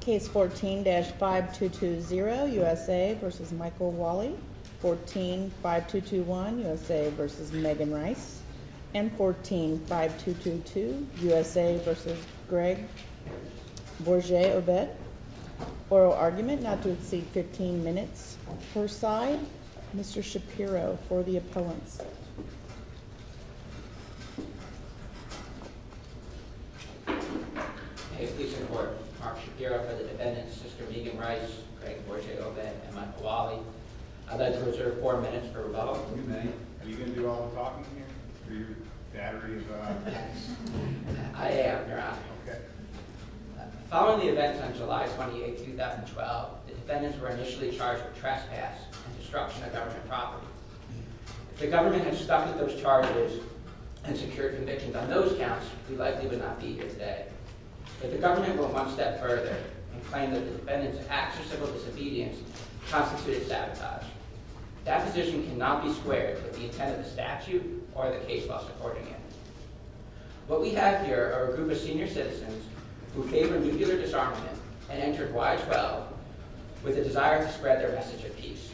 Case 14-5220 U.S.A. v. Michael Walli Case 14-5221 U.S.A. v. Megan Rice Case 14-5222 U.S.A. v. Greg Bourget-Aubert Oral argument not to exceed 15 minutes per side Mr. Shapiro for the appellants May it please the Court, Mark Shapiro for the defendants, Sister Megan Rice, Greg Bourget-Aubert, and Michael Walli. I'd like to reserve four minutes for rebuttal. You may. Are you going to do all the talking here? Are your batteries on? I am, Your Honor. Okay. Following the events on July 28, 2012, the defendants were initially charged with trespass and destruction of government property. If the government had stuffed those charges and secured convictions on those counts, we likely would not be here today. If the government had gone one step further and claimed that the defendants' acts of civil disobedience constituted sabotage, that position cannot be squared with the intent of the statute or the case law supporting it. What we have here are a group of senior citizens who favored nuclear disarmament and entered Y-12 with a desire to spread their message of peace.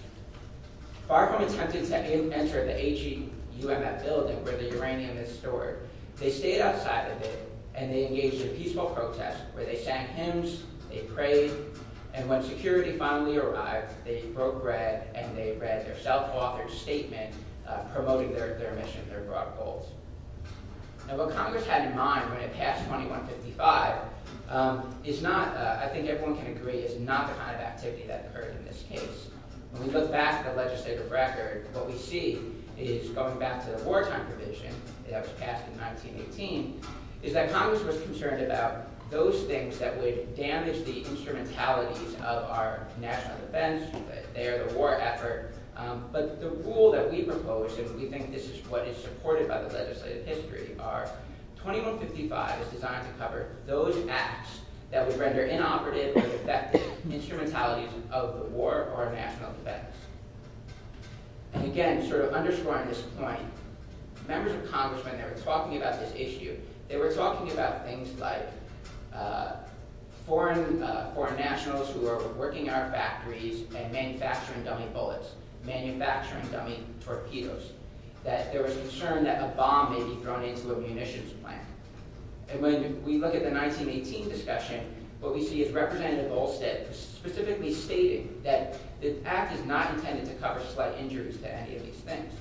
Far from attempting to enter the HEUMF building where the uranium is stored, they stayed outside the building and they engaged in peaceful protest where they sang hymns, they prayed, and when security finally arrived, they broke bread and they read their self-authored statement promoting their mission, their broad goals. Now, what Congress had in mind when it passed 2155 is not, I think everyone can agree, is not the kind of activity that occurred in this case. When we look back at the legislative record, what we see is, going back to the wartime provision that was passed in 1918, is that Congress was concerned about those things that would damage the instrumentalities of our national defense, that they are the war effort, but the rule that we propose, and we think this is what is supported by the legislative history, are 2155 is designed to cover those acts that would render inoperative or defective instrumentalities of the war or national defense. And again, sort of underscoring this point, members of Congress, when they were talking about this issue, they were talking about things like foreign nationals who were working at our factories and manufacturing dummy bullets, manufacturing dummy torpedoes, that there was concern that a bomb may be thrown into a munitions plant. And when we look at the 1918 discussion, what we see is Representative Olsted specifically stating that the act is not intended to cover slight injuries to any of these things.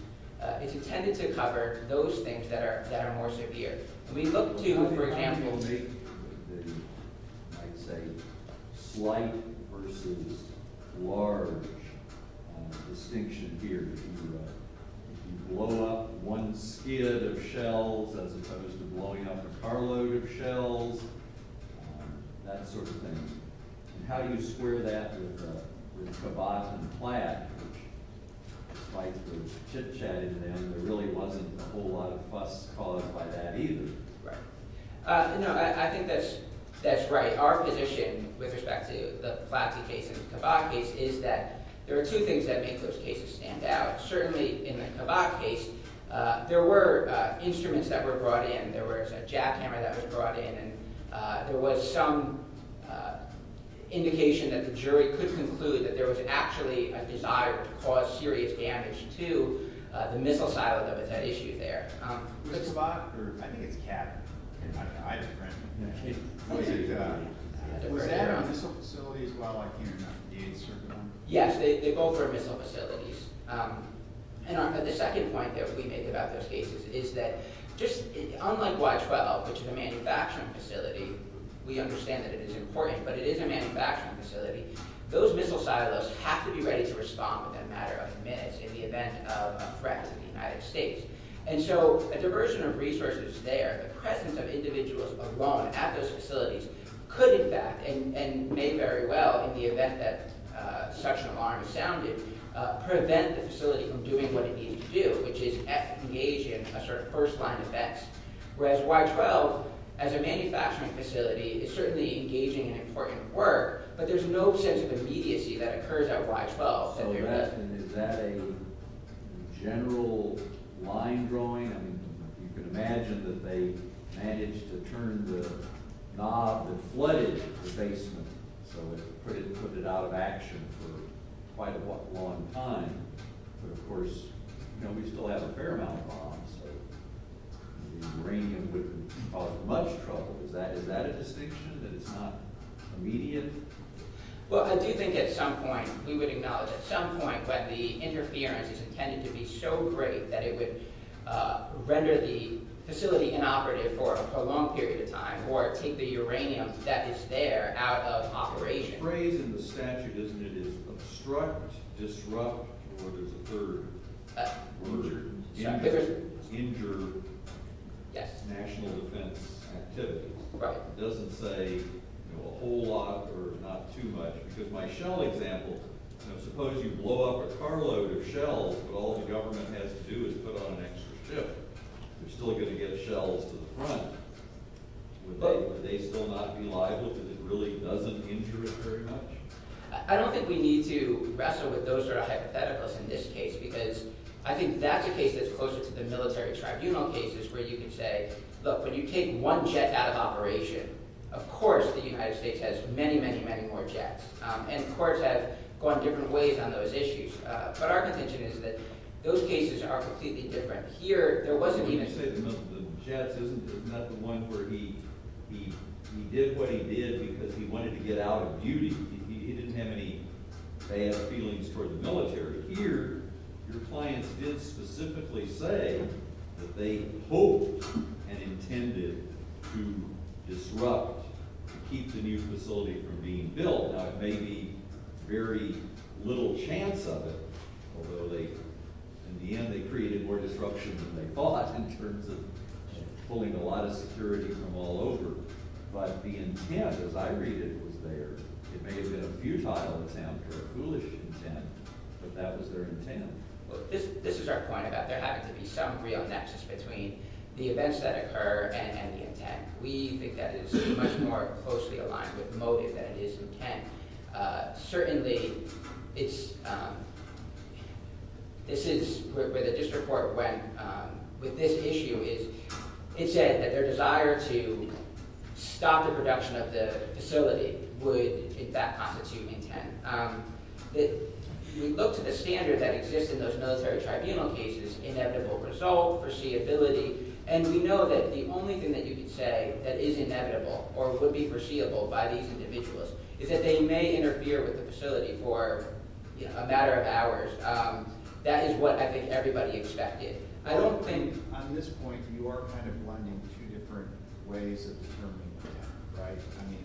It's intended to cover those things that are more severe. We look to, for example, the, I'd say, slight versus large distinction here. If you blow up one skid of shells as opposed to blowing up a carload of shells, that sort of thing. And how do you square that with Kabat and Platt, despite the chit-chatting there? There really wasn't a whole lot of fuss caused by that either. Right. No, I think that's right. Our position with respect to the Platt case and the Kabat case is that there are two things that make those cases stand out. Certainly in the Kabat case, there were instruments that were brought in, there was a jackhammer that was brought in, and there was some indication that the jury could conclude that there was actually a desire to cause serious damage to the missile silo that was at issue there. The Kabat, or I think it's Kabat. I'm not sure. Was that a missile facility as well? I can't remember. Yes, they both were missile facilities. And the second point that we make about those cases is that, unlike Y-12, which is a manufacturing facility, we understand that it is important, but it is a manufacturing facility. Those missile silos have to be ready to respond within a matter of minutes in the event of a threat to the United States. And so a diversion of resources there, the presence of individuals alone at those facilities, could in fact, and may very well, in the event that such an alarm sounded, prevent the facility from doing what it needs to do, which is engage in a sort of first-line defense. Whereas Y-12, as a manufacturing facility, is certainly engaging in important work, but there's no sense of immediacy that occurs at Y-12. So is that a general line drawing? I mean, you can imagine that they managed to turn the knob that flooded the basement, so it put it out of action for quite a long time. But of course, you know, we still have a fair amount of bombs, so the uranium wouldn't cause much trouble. Is that a distinction, that it's not immediate? Well, I do think at some point, we would acknowledge at some point that the interference is intended to be so great that it would render the facility inoperative for a prolonged period of time or take the uranium that is there out of operation. The phrase in the statute, isn't it, is obstruct, disrupt, or there's a third word, injure national defense activities. Right. It doesn't say a whole lot or not too much, because my shell example, suppose you blow up a carload of shells, but all the government has to do is put on an extra ship. They're still going to get shells to the front. Would they still not be liable if it really doesn't injure it very much? I don't think we need to wrestle with those sort of hypotheticals in this case, because I think that's a case that's closer to the military tribunal cases where you can say, look, when you take one jet out of operation, of course the United States has many, many, many more jets, and courts have gone different ways on those issues. But our contention is that those cases are completely different. Here, there wasn't even... Well, when you say the jets, isn't that the one where he did what he did because he wanted to get out of duty? He didn't have any bad feelings toward the military. Here, your clients did specifically say that they hoped and intended to disrupt, to keep the new facility from being built. Now, there may be very little chance of it, although in the end they created more disruption than they thought in terms of pulling a lot of security from all over. But the intent, as I read it, was there. It may have been a futile attempt or a foolish intent, but that was their intent. This is our point about there having to be some real nexus between the events that occur and the intent. We think that is much more closely aligned with motive than it is intent. Certainly, it's... This is where the district court went with this issue. It said that their desire to stop the production of the facility would, in fact, constitute intent. We looked at the standard that exists in those military tribunal cases, inevitable result, foreseeability, and we know that the only thing that you can say that is inevitable or would be foreseeable by these individuals is that they may interfere with the facility for a matter of hours. That is what I think everybody expected. I don't think, on this point, you are kind of blending two different ways of determining intent, right? I mean,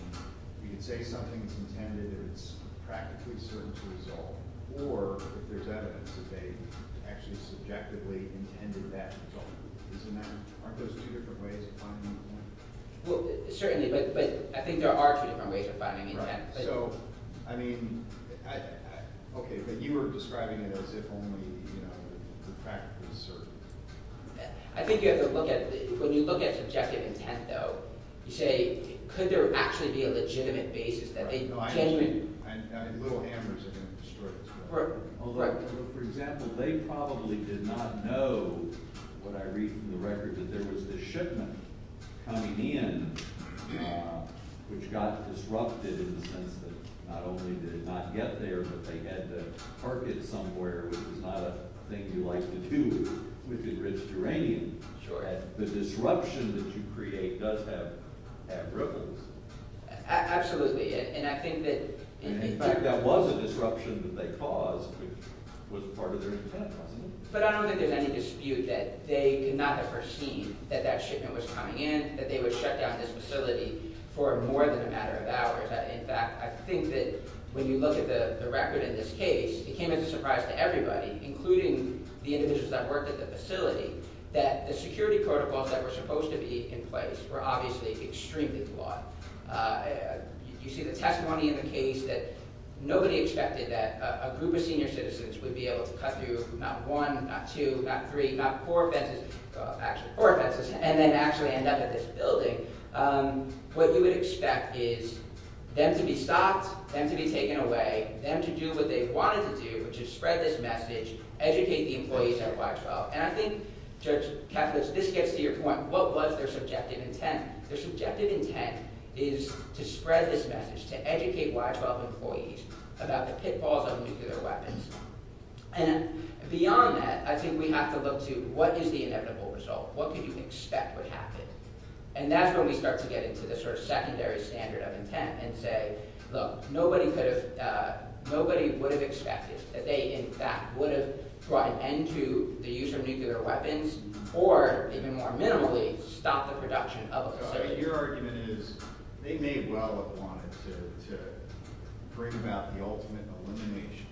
you can say something is intended and it's practically certain to resolve, or if there's evidence that they actually subjectively intended that result. Isn't that... Aren't those two different ways of finding intent? Well, certainly, but I think there are two different ways of finding intent. So, I mean... Okay, but you were describing it as if only the fact was certain. I think you have to look at... When you look at subjective intent, though, you say, could there actually be a legitimate basis that they genuinely... I mean, little hammers are going to destroy this. Although, for example, they probably did not know, what I read from the record, that there was this shipment coming in which got disrupted in the sense that not only did it not get there, but they had to park it somewhere, which is not a thing you like to do with enriched uranium. Sure. The disruption that you create does have ripples. Absolutely, and I think that... In fact, that was a disruption that they caused, which was part of their intent, wasn't it? But I don't think there's any dispute that they could not have foreseen that that shipment was coming in, that they would shut down this facility for more than a matter of hours. In fact, I think that when you look at the record in this case, it came as a surprise to everybody, including the individuals that worked at the facility, that the security protocols that were supposed to be in place were obviously extremely flawed. You see the testimony in the case that nobody expected that a group of senior citizens would be able to cut through not one, not two, not three, not four fences, and then actually end up at this building. What you would expect is them to be stopped, them to be taken away, them to do what they wanted to do, which is spread this message, educate the employees at Y-12. And I think, Judge Kaplan, this gets to your point. What was their subjective intent? Their subjective intent is to spread this message, to educate Y-12 employees about the pitfalls of nuclear weapons. And beyond that, I think we have to look to what is the inevitable result? What could you expect would happen? And that's when we start to get into the secondary standard of intent and say, look, nobody would have expected that they, in fact, would have brought an end to the use of nuclear weapons or, even more minimally, stopped the production of a facility. Your argument is they may well have wanted to bring about the ultimate elimination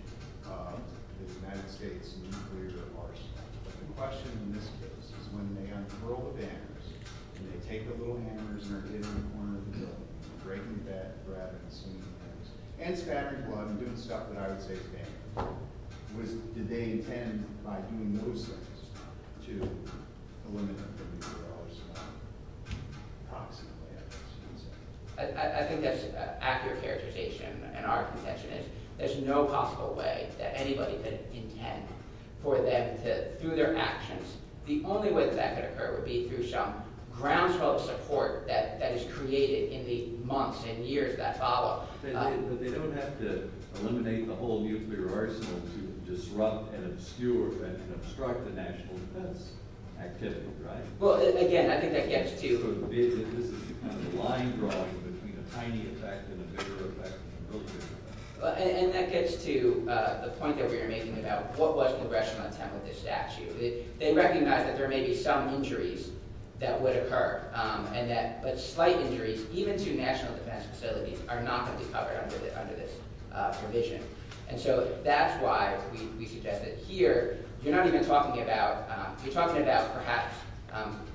of the United States nuclear arsenal. But the question in this case is when they uncurl the banners and they take the little hammers and they're hitting the corner of the building, breaking the bed rather than swinging the hammers, and spattering blood and doing stuff that I would say is dangerous, did they intend, by doing those things, to eliminate the nuclear arsenal? Approximately, I guess you could say. I think that's an accurate characterization. And our contention is there's no possible way that anybody could intend for them to, through their actions, the only way that could occur would be through some groundswell of support that is created in the months and years that follow. But they don't have to eliminate the whole nuclear arsenal to disrupt and obscure and obstruct the national defense activity, right? Well, again, I think that gets to... This is a line drawing between a tiny effect and a bigger effect in the military. And that gets to the point that we were making about what was the congressional intent with this statute. They recognize that there may be some injuries that would occur, but slight injuries, even to national defense facilities, are not going to be covered under this provision. And so that's why we suggest that here, you're not even talking about... You're talking about perhaps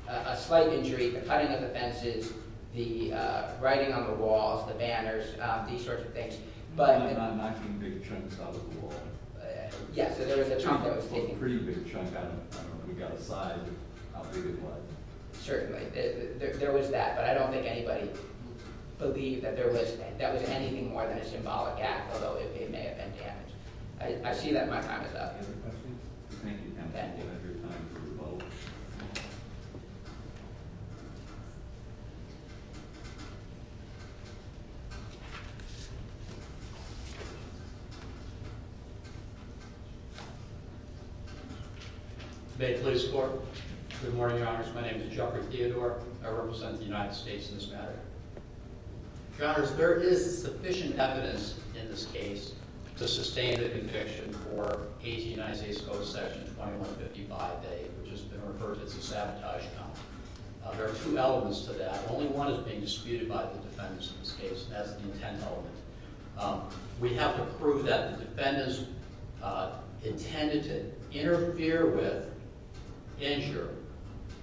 a slight injury, the cutting of the fences, the writing on the walls, the banners, these sorts of things, but... Not knocking big chunks out of the wall. Yeah, so there was a chunk that was taking... A pretty big chunk. I don't know. We got a size of how big it was. Certainly. There was that. But I don't think anybody believed that that was anything more than a symbolic act, although it may have been damage. I see that my time is up. Any other questions? Thank you, Kevin, for your time. May it please the Court. Good morning, Your Honors. My name is Jeffrey Theodore. I represent the United States in this matter. Your Honors, there is sufficient evidence in this case to sustain the conviction for 18 Isaias Coast, Section 2155A, which has been referred to as a sabotage count. There are two elements to that. Only one is being disputed by the defendants in this case, and that's the intent of the conviction. We have to prove that the defendants intended to interfere with, injure,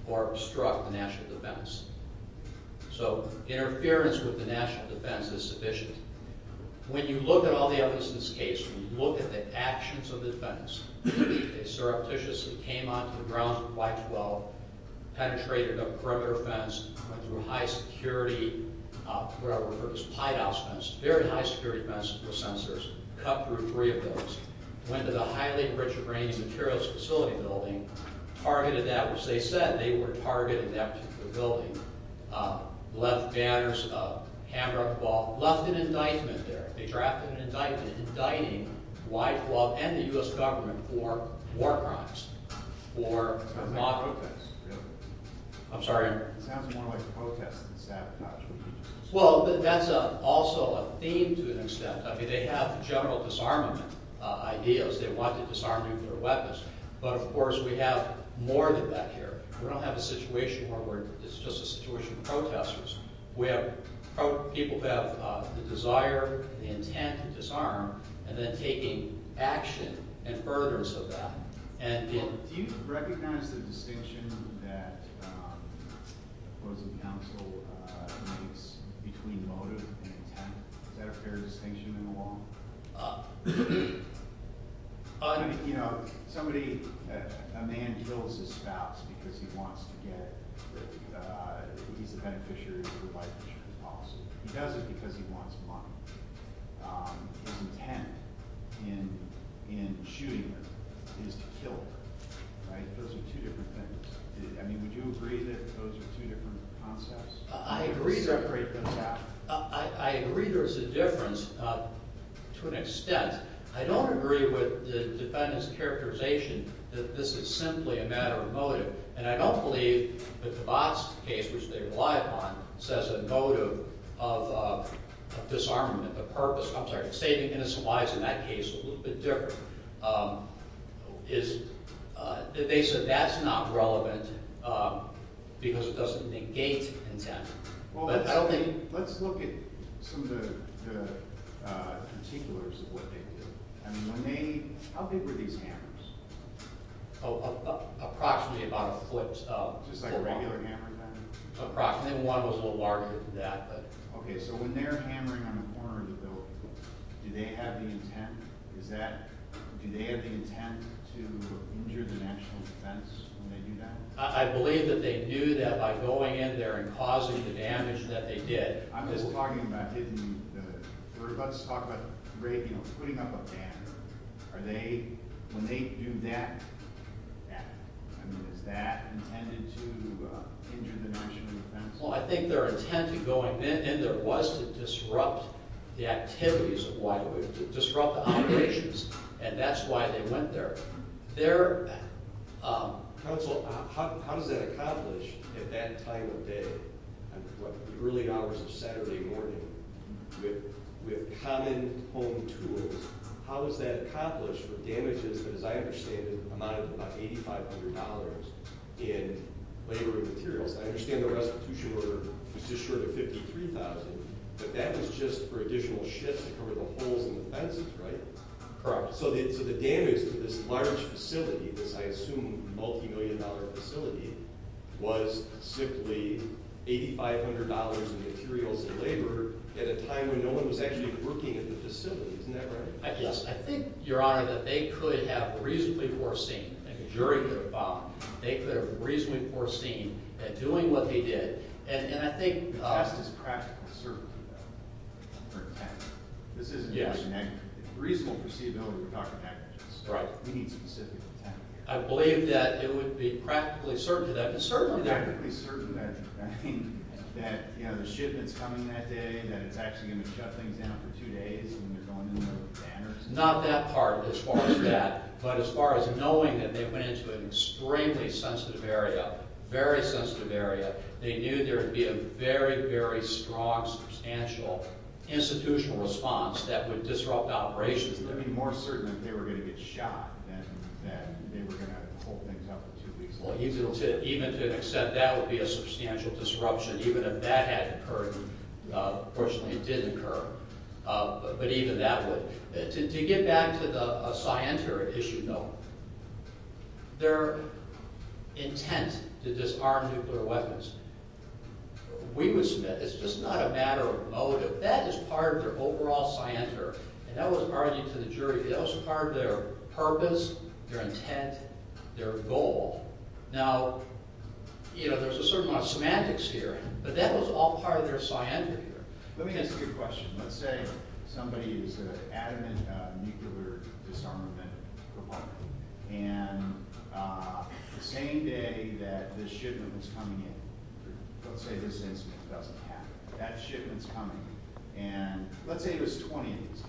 or obstruct the national defense. So interference with the national defense is sufficient. When you look at all the evidence in this case, when you look at the actions of the defendants, they surreptitiously came onto the grounds of Y-12, penetrated a perimeter fence, went through a high-security, what I would refer to as a pied-out fence, a very high-security fence with sensors, cut through three of those, went to the highly-enriched arranged materials facility building, targeted that, which they said they were targeting that particular building, left banners of hand-wrapped ball, left an indictment there. They drafted an indictment indicting Y-12 and the U.S. government for war crimes, for... I'm sorry? Well, that's also a theme to an extent. I mean, they have general disarmament ideas. They want to disarm nuclear weapons. But, of course, we have more than that here. We don't have a situation where we're... It's just a situation of protesters where people have the desire, the intent to disarm, and then taking action in furthers of that. Do you recognize the distinction that opposing counsel makes between motive and intent? Is that a fair distinction in the law? You know, somebody... A man kills his spouse because he wants to get... He's a beneficiary of the life insurance policy. He does it because he wants money. His intent in shooting her is to kill her, right? Those are two different things. I mean, would you agree that those are two different concepts? I agree there's a difference to an extent. I don't agree with the defendant's characterization that this is simply a matter of motive. And I don't believe that the Botts case, which they rely upon, says a motive of disarmament, the purpose... I'm sorry, saving innocent lives in that case is a little bit different. They said that's not relevant because it doesn't negate intent. Let's look at some of the particulars of what they do. How big were these hammers? Approximately about a foot. Just like a regular hammer, kind of? Approximately. One was a little larger than that. Okay, so when they're hammering on the corner of the building, do they have the intent? Do they have the intent to injure the national defense when they do that? I believe that they knew that by going in there and causing the damage that they did... I'm just talking about hitting the... We're about to talk about putting up a banner. When they do that, I mean, is that intended to injure the national defense? Well, I think their intent in going in there was to disrupt the activities of Whitewood, disrupt the operations, and that's why they went there. Their... Counsel, how does that accomplish at that time of day, in the early hours of Saturday morning, with common home tools? How does that accomplish the damages that, as I understand it, amounted to about $8,500 in labor and materials? I understand the restitution order was just short of $53,000, but that was just for additional shifts to cover the holes in the fences, right? Correct. So the damage to this large facility, this, I assume, multimillion-dollar facility, was simply $8,500 in materials and labor at a time when no one was actually working at the facility. Isn't that right? I think, Your Honor, that they could have reasonably foreseen, and the jury could have found, they could have reasonably foreseen at doing what they did. And I think... The test is practically certain, though, for attack. Yes. This isn't just a reasonable foreseeability we're talking averages. Right. We need specific attack. I believe that it would be practically certain that it's certainly there. Practically certain that, I mean, that, you know, the shipment's coming that day, that it's actually going to shut things down for two days when they're going in there with banners. Not that part, as far as that, but as far as knowing that they went into an extremely sensitive area, very sensitive area, they knew there would be a very, very strong, substantial institutional response that would disrupt operations. I mean, more certain that they were going to get shot than they were going to hold things up for two weeks. Well, even to accept that would be a substantial disruption, even if that hadn't occurred. Fortunately, it did occur. But even that would... To get back to the Cienter issue, though, their intent to disarm nuclear weapons, we would submit it's just not a matter of motive. That is part of their overall Cienter, and that was argued to the jury. That was part of their purpose, their intent, their goal. Now, you know, there's a certain amount of semantics here, but that was all part of their Cienter here. Let me ask you a question. Let's say somebody is an adamant nuclear disarmament proponent, and the same day that the shipment was coming in, let's say this incident doesn't happen, that shipment's coming, and let's say there's 20 of these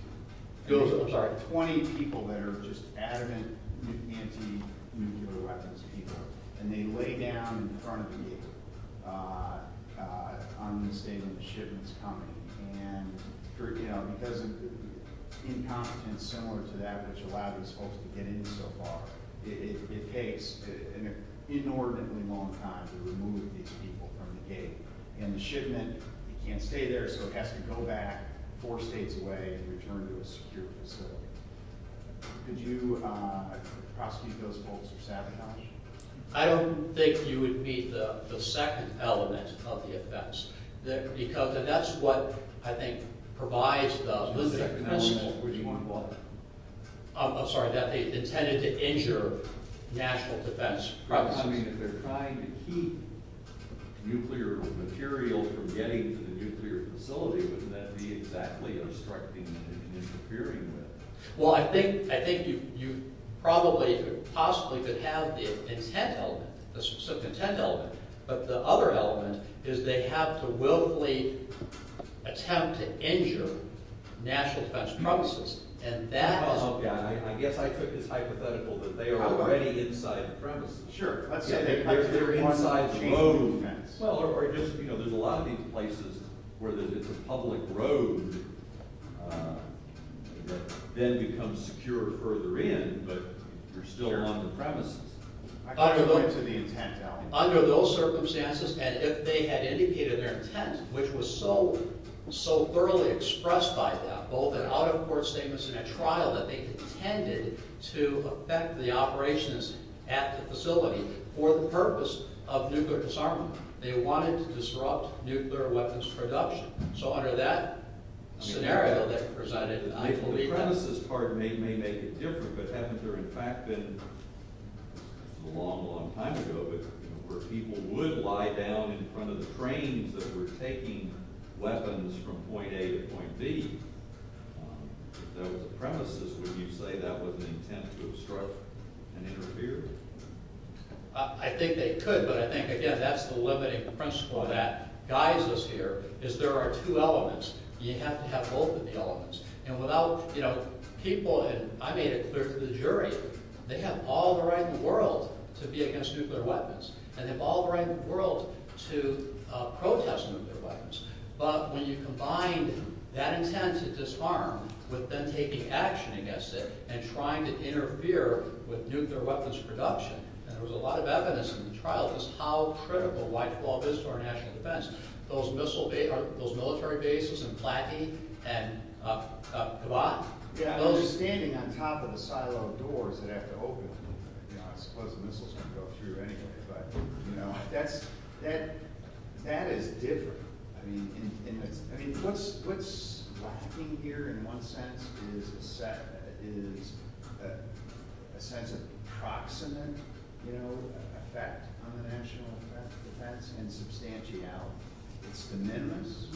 people. I'm sorry, 20 people that are just adamant anti-nuclear weapons people, and they lay down in front of you on the same day the shipment's coming, and, you know, because of incompetence similar to that which allowed these folks to get in so far, it takes an inordinately long time to remove these people from the gate, and the shipment, it can't stay there, so it has to go back four states away and return to a secure facility. Could you prosecute those folks for sabotage? I don't think you would meet the second element of the offense, because that's what I think provides the... The second element would be what? I'm sorry, that they intended to injure national defense practices. I mean, if they're trying to keep nuclear material from getting to the nuclear facility, wouldn't that be exactly obstructing and interfering with? Well, I think you probably could possibly could have the intent element, the specific intent element, but the other element is they have to willfully attempt to injure national defense premises, and that is... Oh, yeah, I guess I took this hypothetical that they are already inside the premises. Sure. They're inside the moat. Well, or just, you know, there's a lot of these places where it's a public road that then becomes secure further in, but you're still on the premises. Under those circumstances, and if they had indicated their intent, which was so thoroughly expressed by that, both in out-of-court statements and at trial, that they intended to affect the operations at the facility for the purpose of nuclear disarmament, they wanted to disrupt nuclear weapons production. So under that scenario that you presented, I believe that... The premises part may make it different, but haven't there, in fact, been... It's a long, long time ago, but where people would lie down in front of the trains that were taking weapons from point A to point B, if there was a premises, would you say that was an intent to obstruct and interfere? I think they could, but I think, again, that's the limiting principle that guides us here, is there are two elements. You have to have both of the elements. And without, you know, people... And I made it clear to the jury, they have all the right in the world to be against nuclear weapons, and they've all the right in the world to protest nuclear weapons. But when you combine that intent to disarm with them taking action against it and trying to interfere with nuclear weapons production, and there was a lot of evidence in the trial as to how critical Whitehall is to our national defense. Those missile... Those military bases in Plattey and... Kibat? Those... Yeah, I was standing on top of a silo of doors that have to open, and, you know, I suppose the missiles can go through anyway, but, you know, that's... That is different. I mean, what's lacking here in one sense is a sense of proximate, you know, effect on the national defense and substantiality. It's de minimis.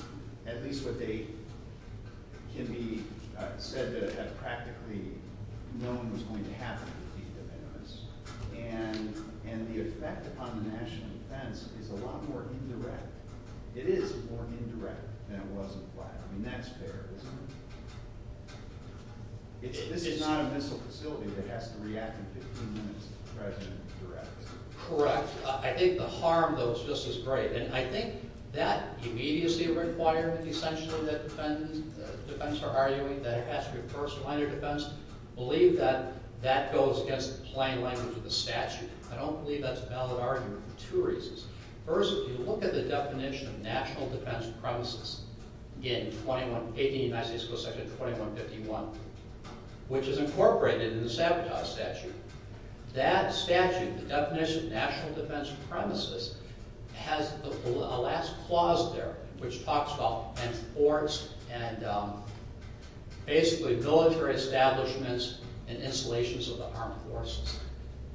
At least what they can be said to have practically... No one was going to happen to be de minimis. And the effect upon the national defense is a lot more indirect. It is more indirect than it was in Plattey. I mean, that's fair, isn't it? This is not a missile facility that has to react in 15 minutes to the President directly. Correct. I think the harm, though, is just as great. And I think that immediacy requirement, essentially, that defense are arguing, that it has to be first-line of defense, believe that that goes against the plain language of the statute. I don't believe that's a valid argument for two reasons. First, if you look at the definition of national defense premises in 18 United States Code Section 2151, which is incorporated in the sabotage statute, that statute, the definition of national defense premises, has a last clause there, which talks about... and basically military establishments and installations of the armed forces.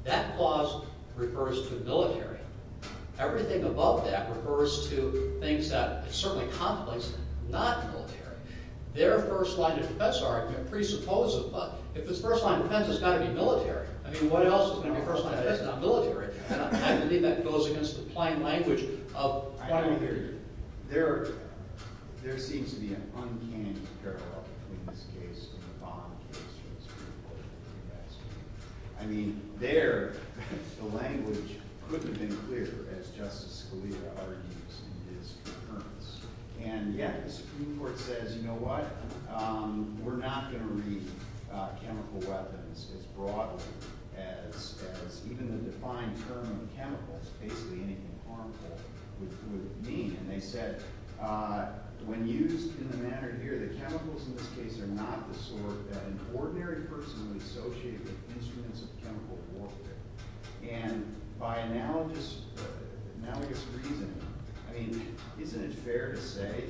That clause refers to military. Everything above that refers to things that are certainly complex, not military. Their first-line of defense argument presupposes, but if it's first-line of defense, it's got to be military. I mean, what else is going to be first-line of defense, not military? And I believe that goes against the plain language of primary theory. There seems to be an uncanny parallel between this case and the Bond case in the Supreme Court. I mean, there, the language couldn't have been clearer, as Justice Scalia argues in his concurrence. And yet, the Supreme Court says, you know what? We're not going to read chemical weapons as broadly as even the defined term of chemicals, basically anything harmful, would mean. And they said, when used in the manner here, the chemicals in this case are not the sort that an ordinary person would associate with instruments of chemical warfare. And by analogous reasoning, I mean, isn't it fair to say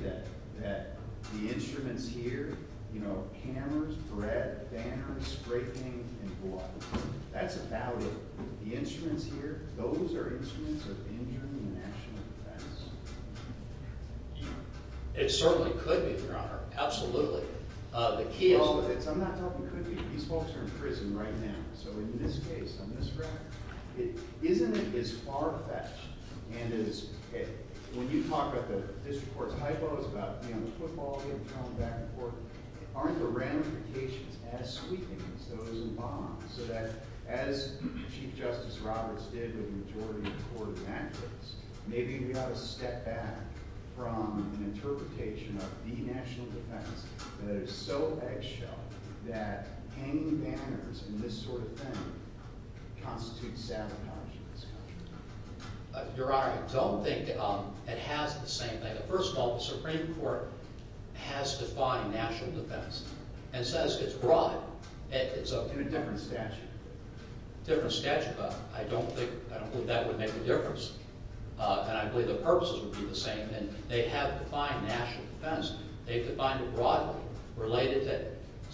that the instruments here, you know, hammers, bread, banners, spray paint, and blood, that's about it. The instruments here, those are instruments of injury and national defense. It certainly could be, Your Honor. Absolutely. The key is... I'm not talking could be. These folks are in prison right now. So in this case, on this record, isn't it as far-fetched, and as, when you talk about the district court's hypo, it's about, you know, the football game, throwing back and forth. Aren't the ramifications as sweeping as those in Bond? So that, as Chief Justice Roberts did in the majority of the court of access, maybe we ought to step back from an interpretation of the national defense that is so eggshell that hanging banners and this sort of thing constitutes sabotage in this country. Your Honor, I don't think it has the same thing. First of all, the Supreme Court has defined national defense, and says it's broad. In a different statute. Different statute, but I don't think, I don't believe that would make a difference. And I believe the purposes would be the same. And they have defined national defense. They've defined it broadly, related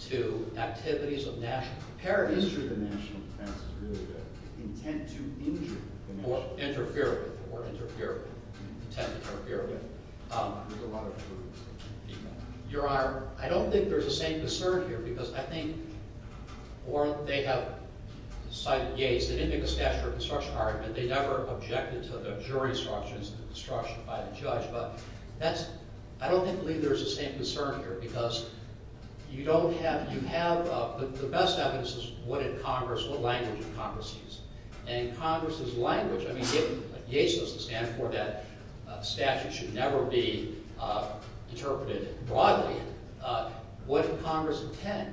to activities of national preparedness. The history of the national defense is really good. Intent to injure. Or interfere with. Or interfere with. Intent to interfere with. With a lot of people. Your Honor, I don't think there's the same concern here, because I think, or they have cited Yates. They didn't make a statute of obstruction argument. They never objected to the jury instructions and the obstruction by the judge. But that's, I don't think there's the same concern here, because you don't have, you have the best evidence is what did Congress, what language did Congress use? And Congress's language, I mean, if Yates was to stand for that, the statute should never be interpreted broadly. What did Congress intend?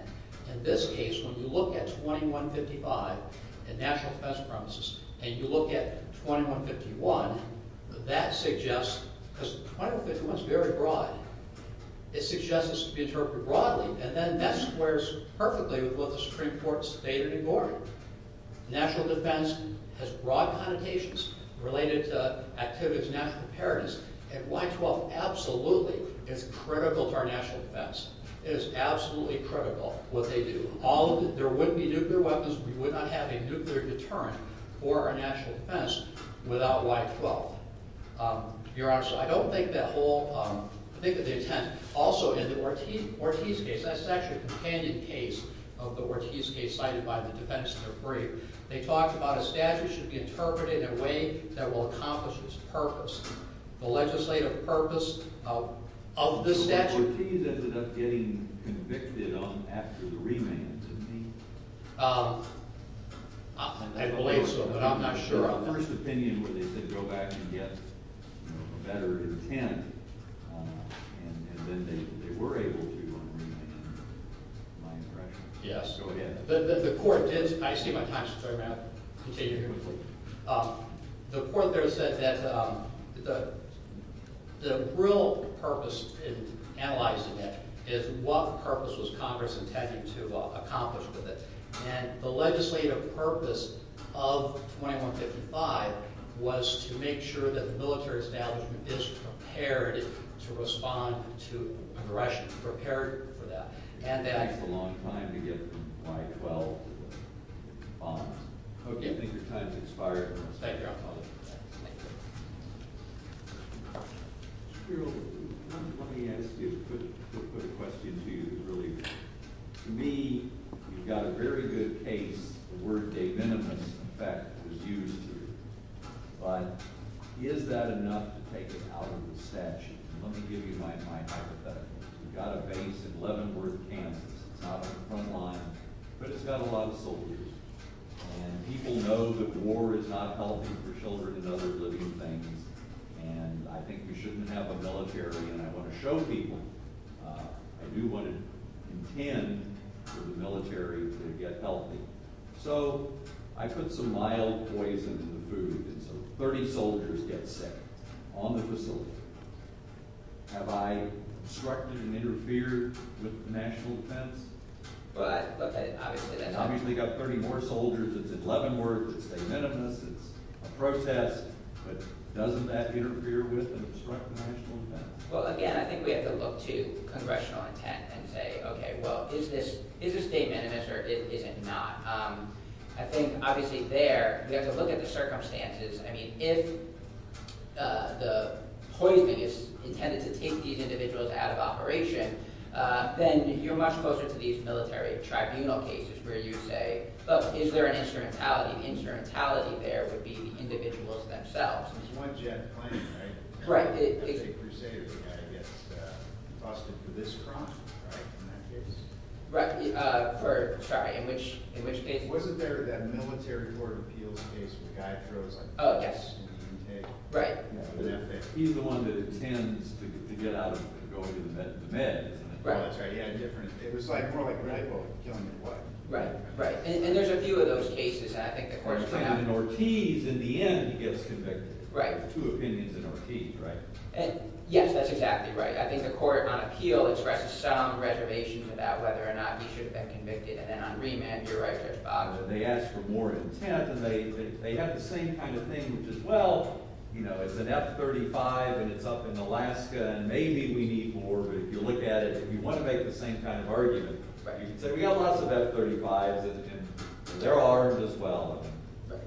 In this case, when you look at 2155 and national defense premises, and you look at 2151, that suggests, because 2151's very broad, it suggests this to be interpreted broadly, and then that squares perfectly with what the Supreme Court stated in Gordon. National defense has broad connotations related to activities of national preparedness, and Y-12 absolutely is critical to our national defense. It is absolutely critical, what they do. There wouldn't be nuclear weapons, we would not have a nuclear deterrent for our national defense without Y-12. Your Honor, I don't think that whole, I think that they intend, also in the Ortiz case, that's actually a companion case of the Ortiz case cited by the defense in their brief. They talked about a statute should be interpreted in a way that will accomplish its purpose. The legislative purpose of this statute. The Ortiz ended up getting convicted after the remand, didn't he? I believe so, but I'm not sure. The first opinion where they said go back and get a better intent, and then they were able to on remand, my impression. Yes. The court did, I see my time's up, I'm going to have to continue here. The court there said that the real purpose in analyzing it is what purpose was Congress intending to accomplish with it. And the legislative purpose of 2155 was to make sure that the military establishment is prepared to respond to aggression, prepared for that. And that... It takes a long time to get Y-12 bonds. Okay. I think your time's expired. Thank you, Your Honor. Thank you. Mr. Carroll, let me ask you a quick question to you that really... To me, you've got a very good case where de minimis effect was used. But is that enough to take it out of the statute? And let me give you my hypothetical. You've got a base in Leavenworth, Kansas. It's not on the front line, but it's got a lot of soldiers. And people know that war is not healthy for children and other living things. And I think we shouldn't have a military. And I want to show people I do what I intend for the military to get healthy. So I put some mild poison in the food, and so 30 soldiers get sick on the facility. Have I obstructed and interfered with the national defense? Well, I... Obviously, that's... Obviously, you've got 30 more soldiers. It's in Leavenworth. It's de minimis. It's a protest. But doesn't that interfere with and obstruct the national defense? Well, again, I think we have to look to congressional intent and say, okay, well, is this statement or is it not? I think, obviously, there, we have to look at the circumstances. I mean, if the poison is intended to take these individuals out of operation, then you're much closer to these military tribunal cases where you say, well, is there an instrumentality? And the instrumentality there would be the individuals themselves. There's one jet plane, right? Right. It's a crusader. The guy gets busted for this crime, right, in that case? Right. For... Sorry, in which case? Wasn't there that military court appeals case where the guy throws... Oh, yes. Right. He's the one that attends to get out of going to the meds. Right. Yeah, different... It was more like a red boat killing your wife. Right, right. And there's a few of those cases, and I think the court... And in Ortiz, in the end, he gets convicted. Right. Two opinions in Ortiz, right? Yes, that's exactly right. I think the court on appeal expresses some reservation about whether or not he should have been convicted. And then on remand, you're right, there's Boggs. And they ask for more intent, and they have the same kind of thing, which is, well, you know, it's an F-35 and it's up in Alaska, and maybe we need more, but if you look at it, if you want to make the same kind of argument, you can say, we have lots of F-35s, and they're armed as well.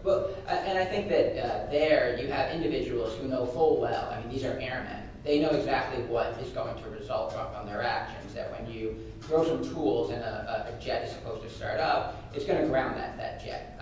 Well, and I think that there, you have individuals who know full well, I mean, these are airmen. They know exactly what is going to result from their actions, that when you throw some tools and a jet is supposed to start up, it's going to ground that jet.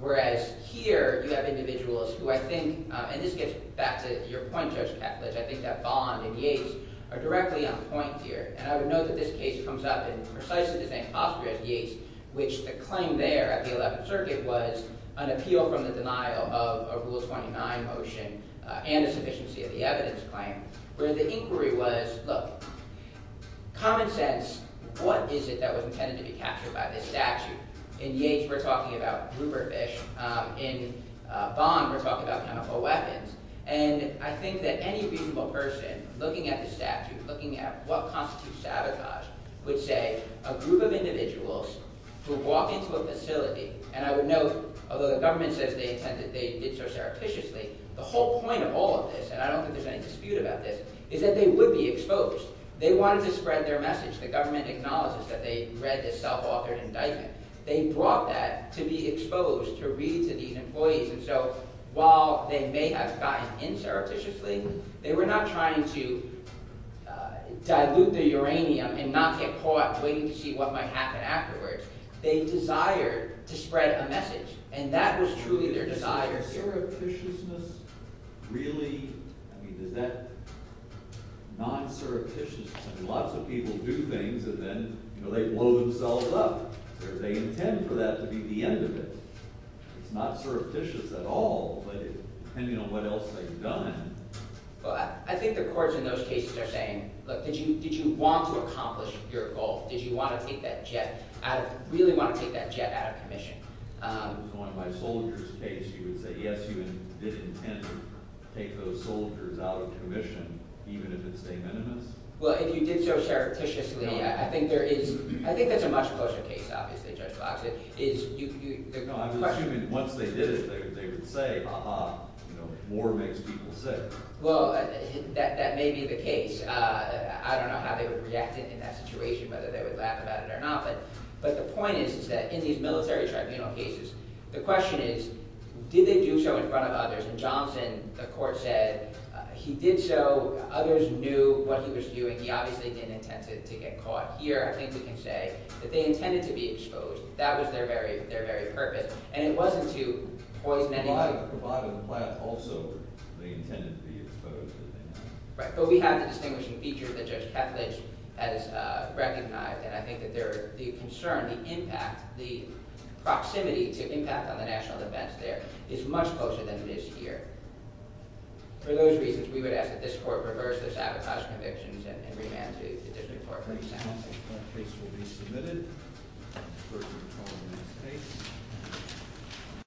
Whereas here, you have individuals who I think, and this gets back to your point, Judge Ketledge, I think that Bond and Yates are directly on point here. And I would note that this case comes up in precisely the same posture as Yates, which the claim there at the 11th Circuit was an appeal from the denial of a Rule 29 motion and a sufficiency of the evidence claim, where the inquiry was, look, common sense, what is it that was intended to be captured by this statute? In Yates, In Bond, we're talking about chemical weapons. And I think that any reasonable person looking at the statute, looking at what constitutes sabotage, looking at what constitutes sabotage, would say, a group of individuals who walk into a facility, and I would note, although the government says they intended, they did so surreptitiously, the whole point of all of this, and I don't think there's any dispute about this, is that they would be exposed. They wanted to spread their message. The government acknowledges that they read this self-authored indictment. They brought that to be exposed to read to these employees. And so, while they may have gotten in surreptitiously, they were not trying to dilute the uranium and not get caught waiting to see what might happen afterwards. They desired to spread a message. And that was truly their desire. So is surreptitiousness really, I mean, does that, non-surreptitiousness, I mean, lots of people do things, and then, you know, they blow themselves up. Do they intend for that to be the end of it? It's not surreptitious at all, but depending on what else they've done. Well, I think the courts in those cases are saying, look, did you want to accomplish your goal? Did you want to take that jet out of, really want to take that jet out of commission? In my soldiers case, you would say, yes, you did intend to take those soldiers out of commission, even if it's de minimis. Well, if you did so surreptitiously, I think there is, I think there's a much closer case, obviously, Judge Fox. I'm assuming once they did it, they would say, ah-ha, war makes people sick. Well, that may be the case. I don't know how they would react in that situation, whether they would laugh about it or not, but the point is, is that in these military tribunal cases, the question is, did they do so in front of others? And Johnson, the court said, he did so, others knew what he was doing. He obviously didn't intend to get caught. Here, I think we can say that they intended to be exposed. That was their very purpose, and it wasn't to poison anything. Providing the plan also, they intended to be exposed. Right, but we have the distinguishing feature that Judge Kethledge has recognized, and I think that the concern, the impact, the proximity to impact on the national defense there is much closer than it is here. For those reasons, we would ask that this court reverse those sabotage convictions and remand to the district court for a new sentence. That case will be submitted. We're going to call the next case.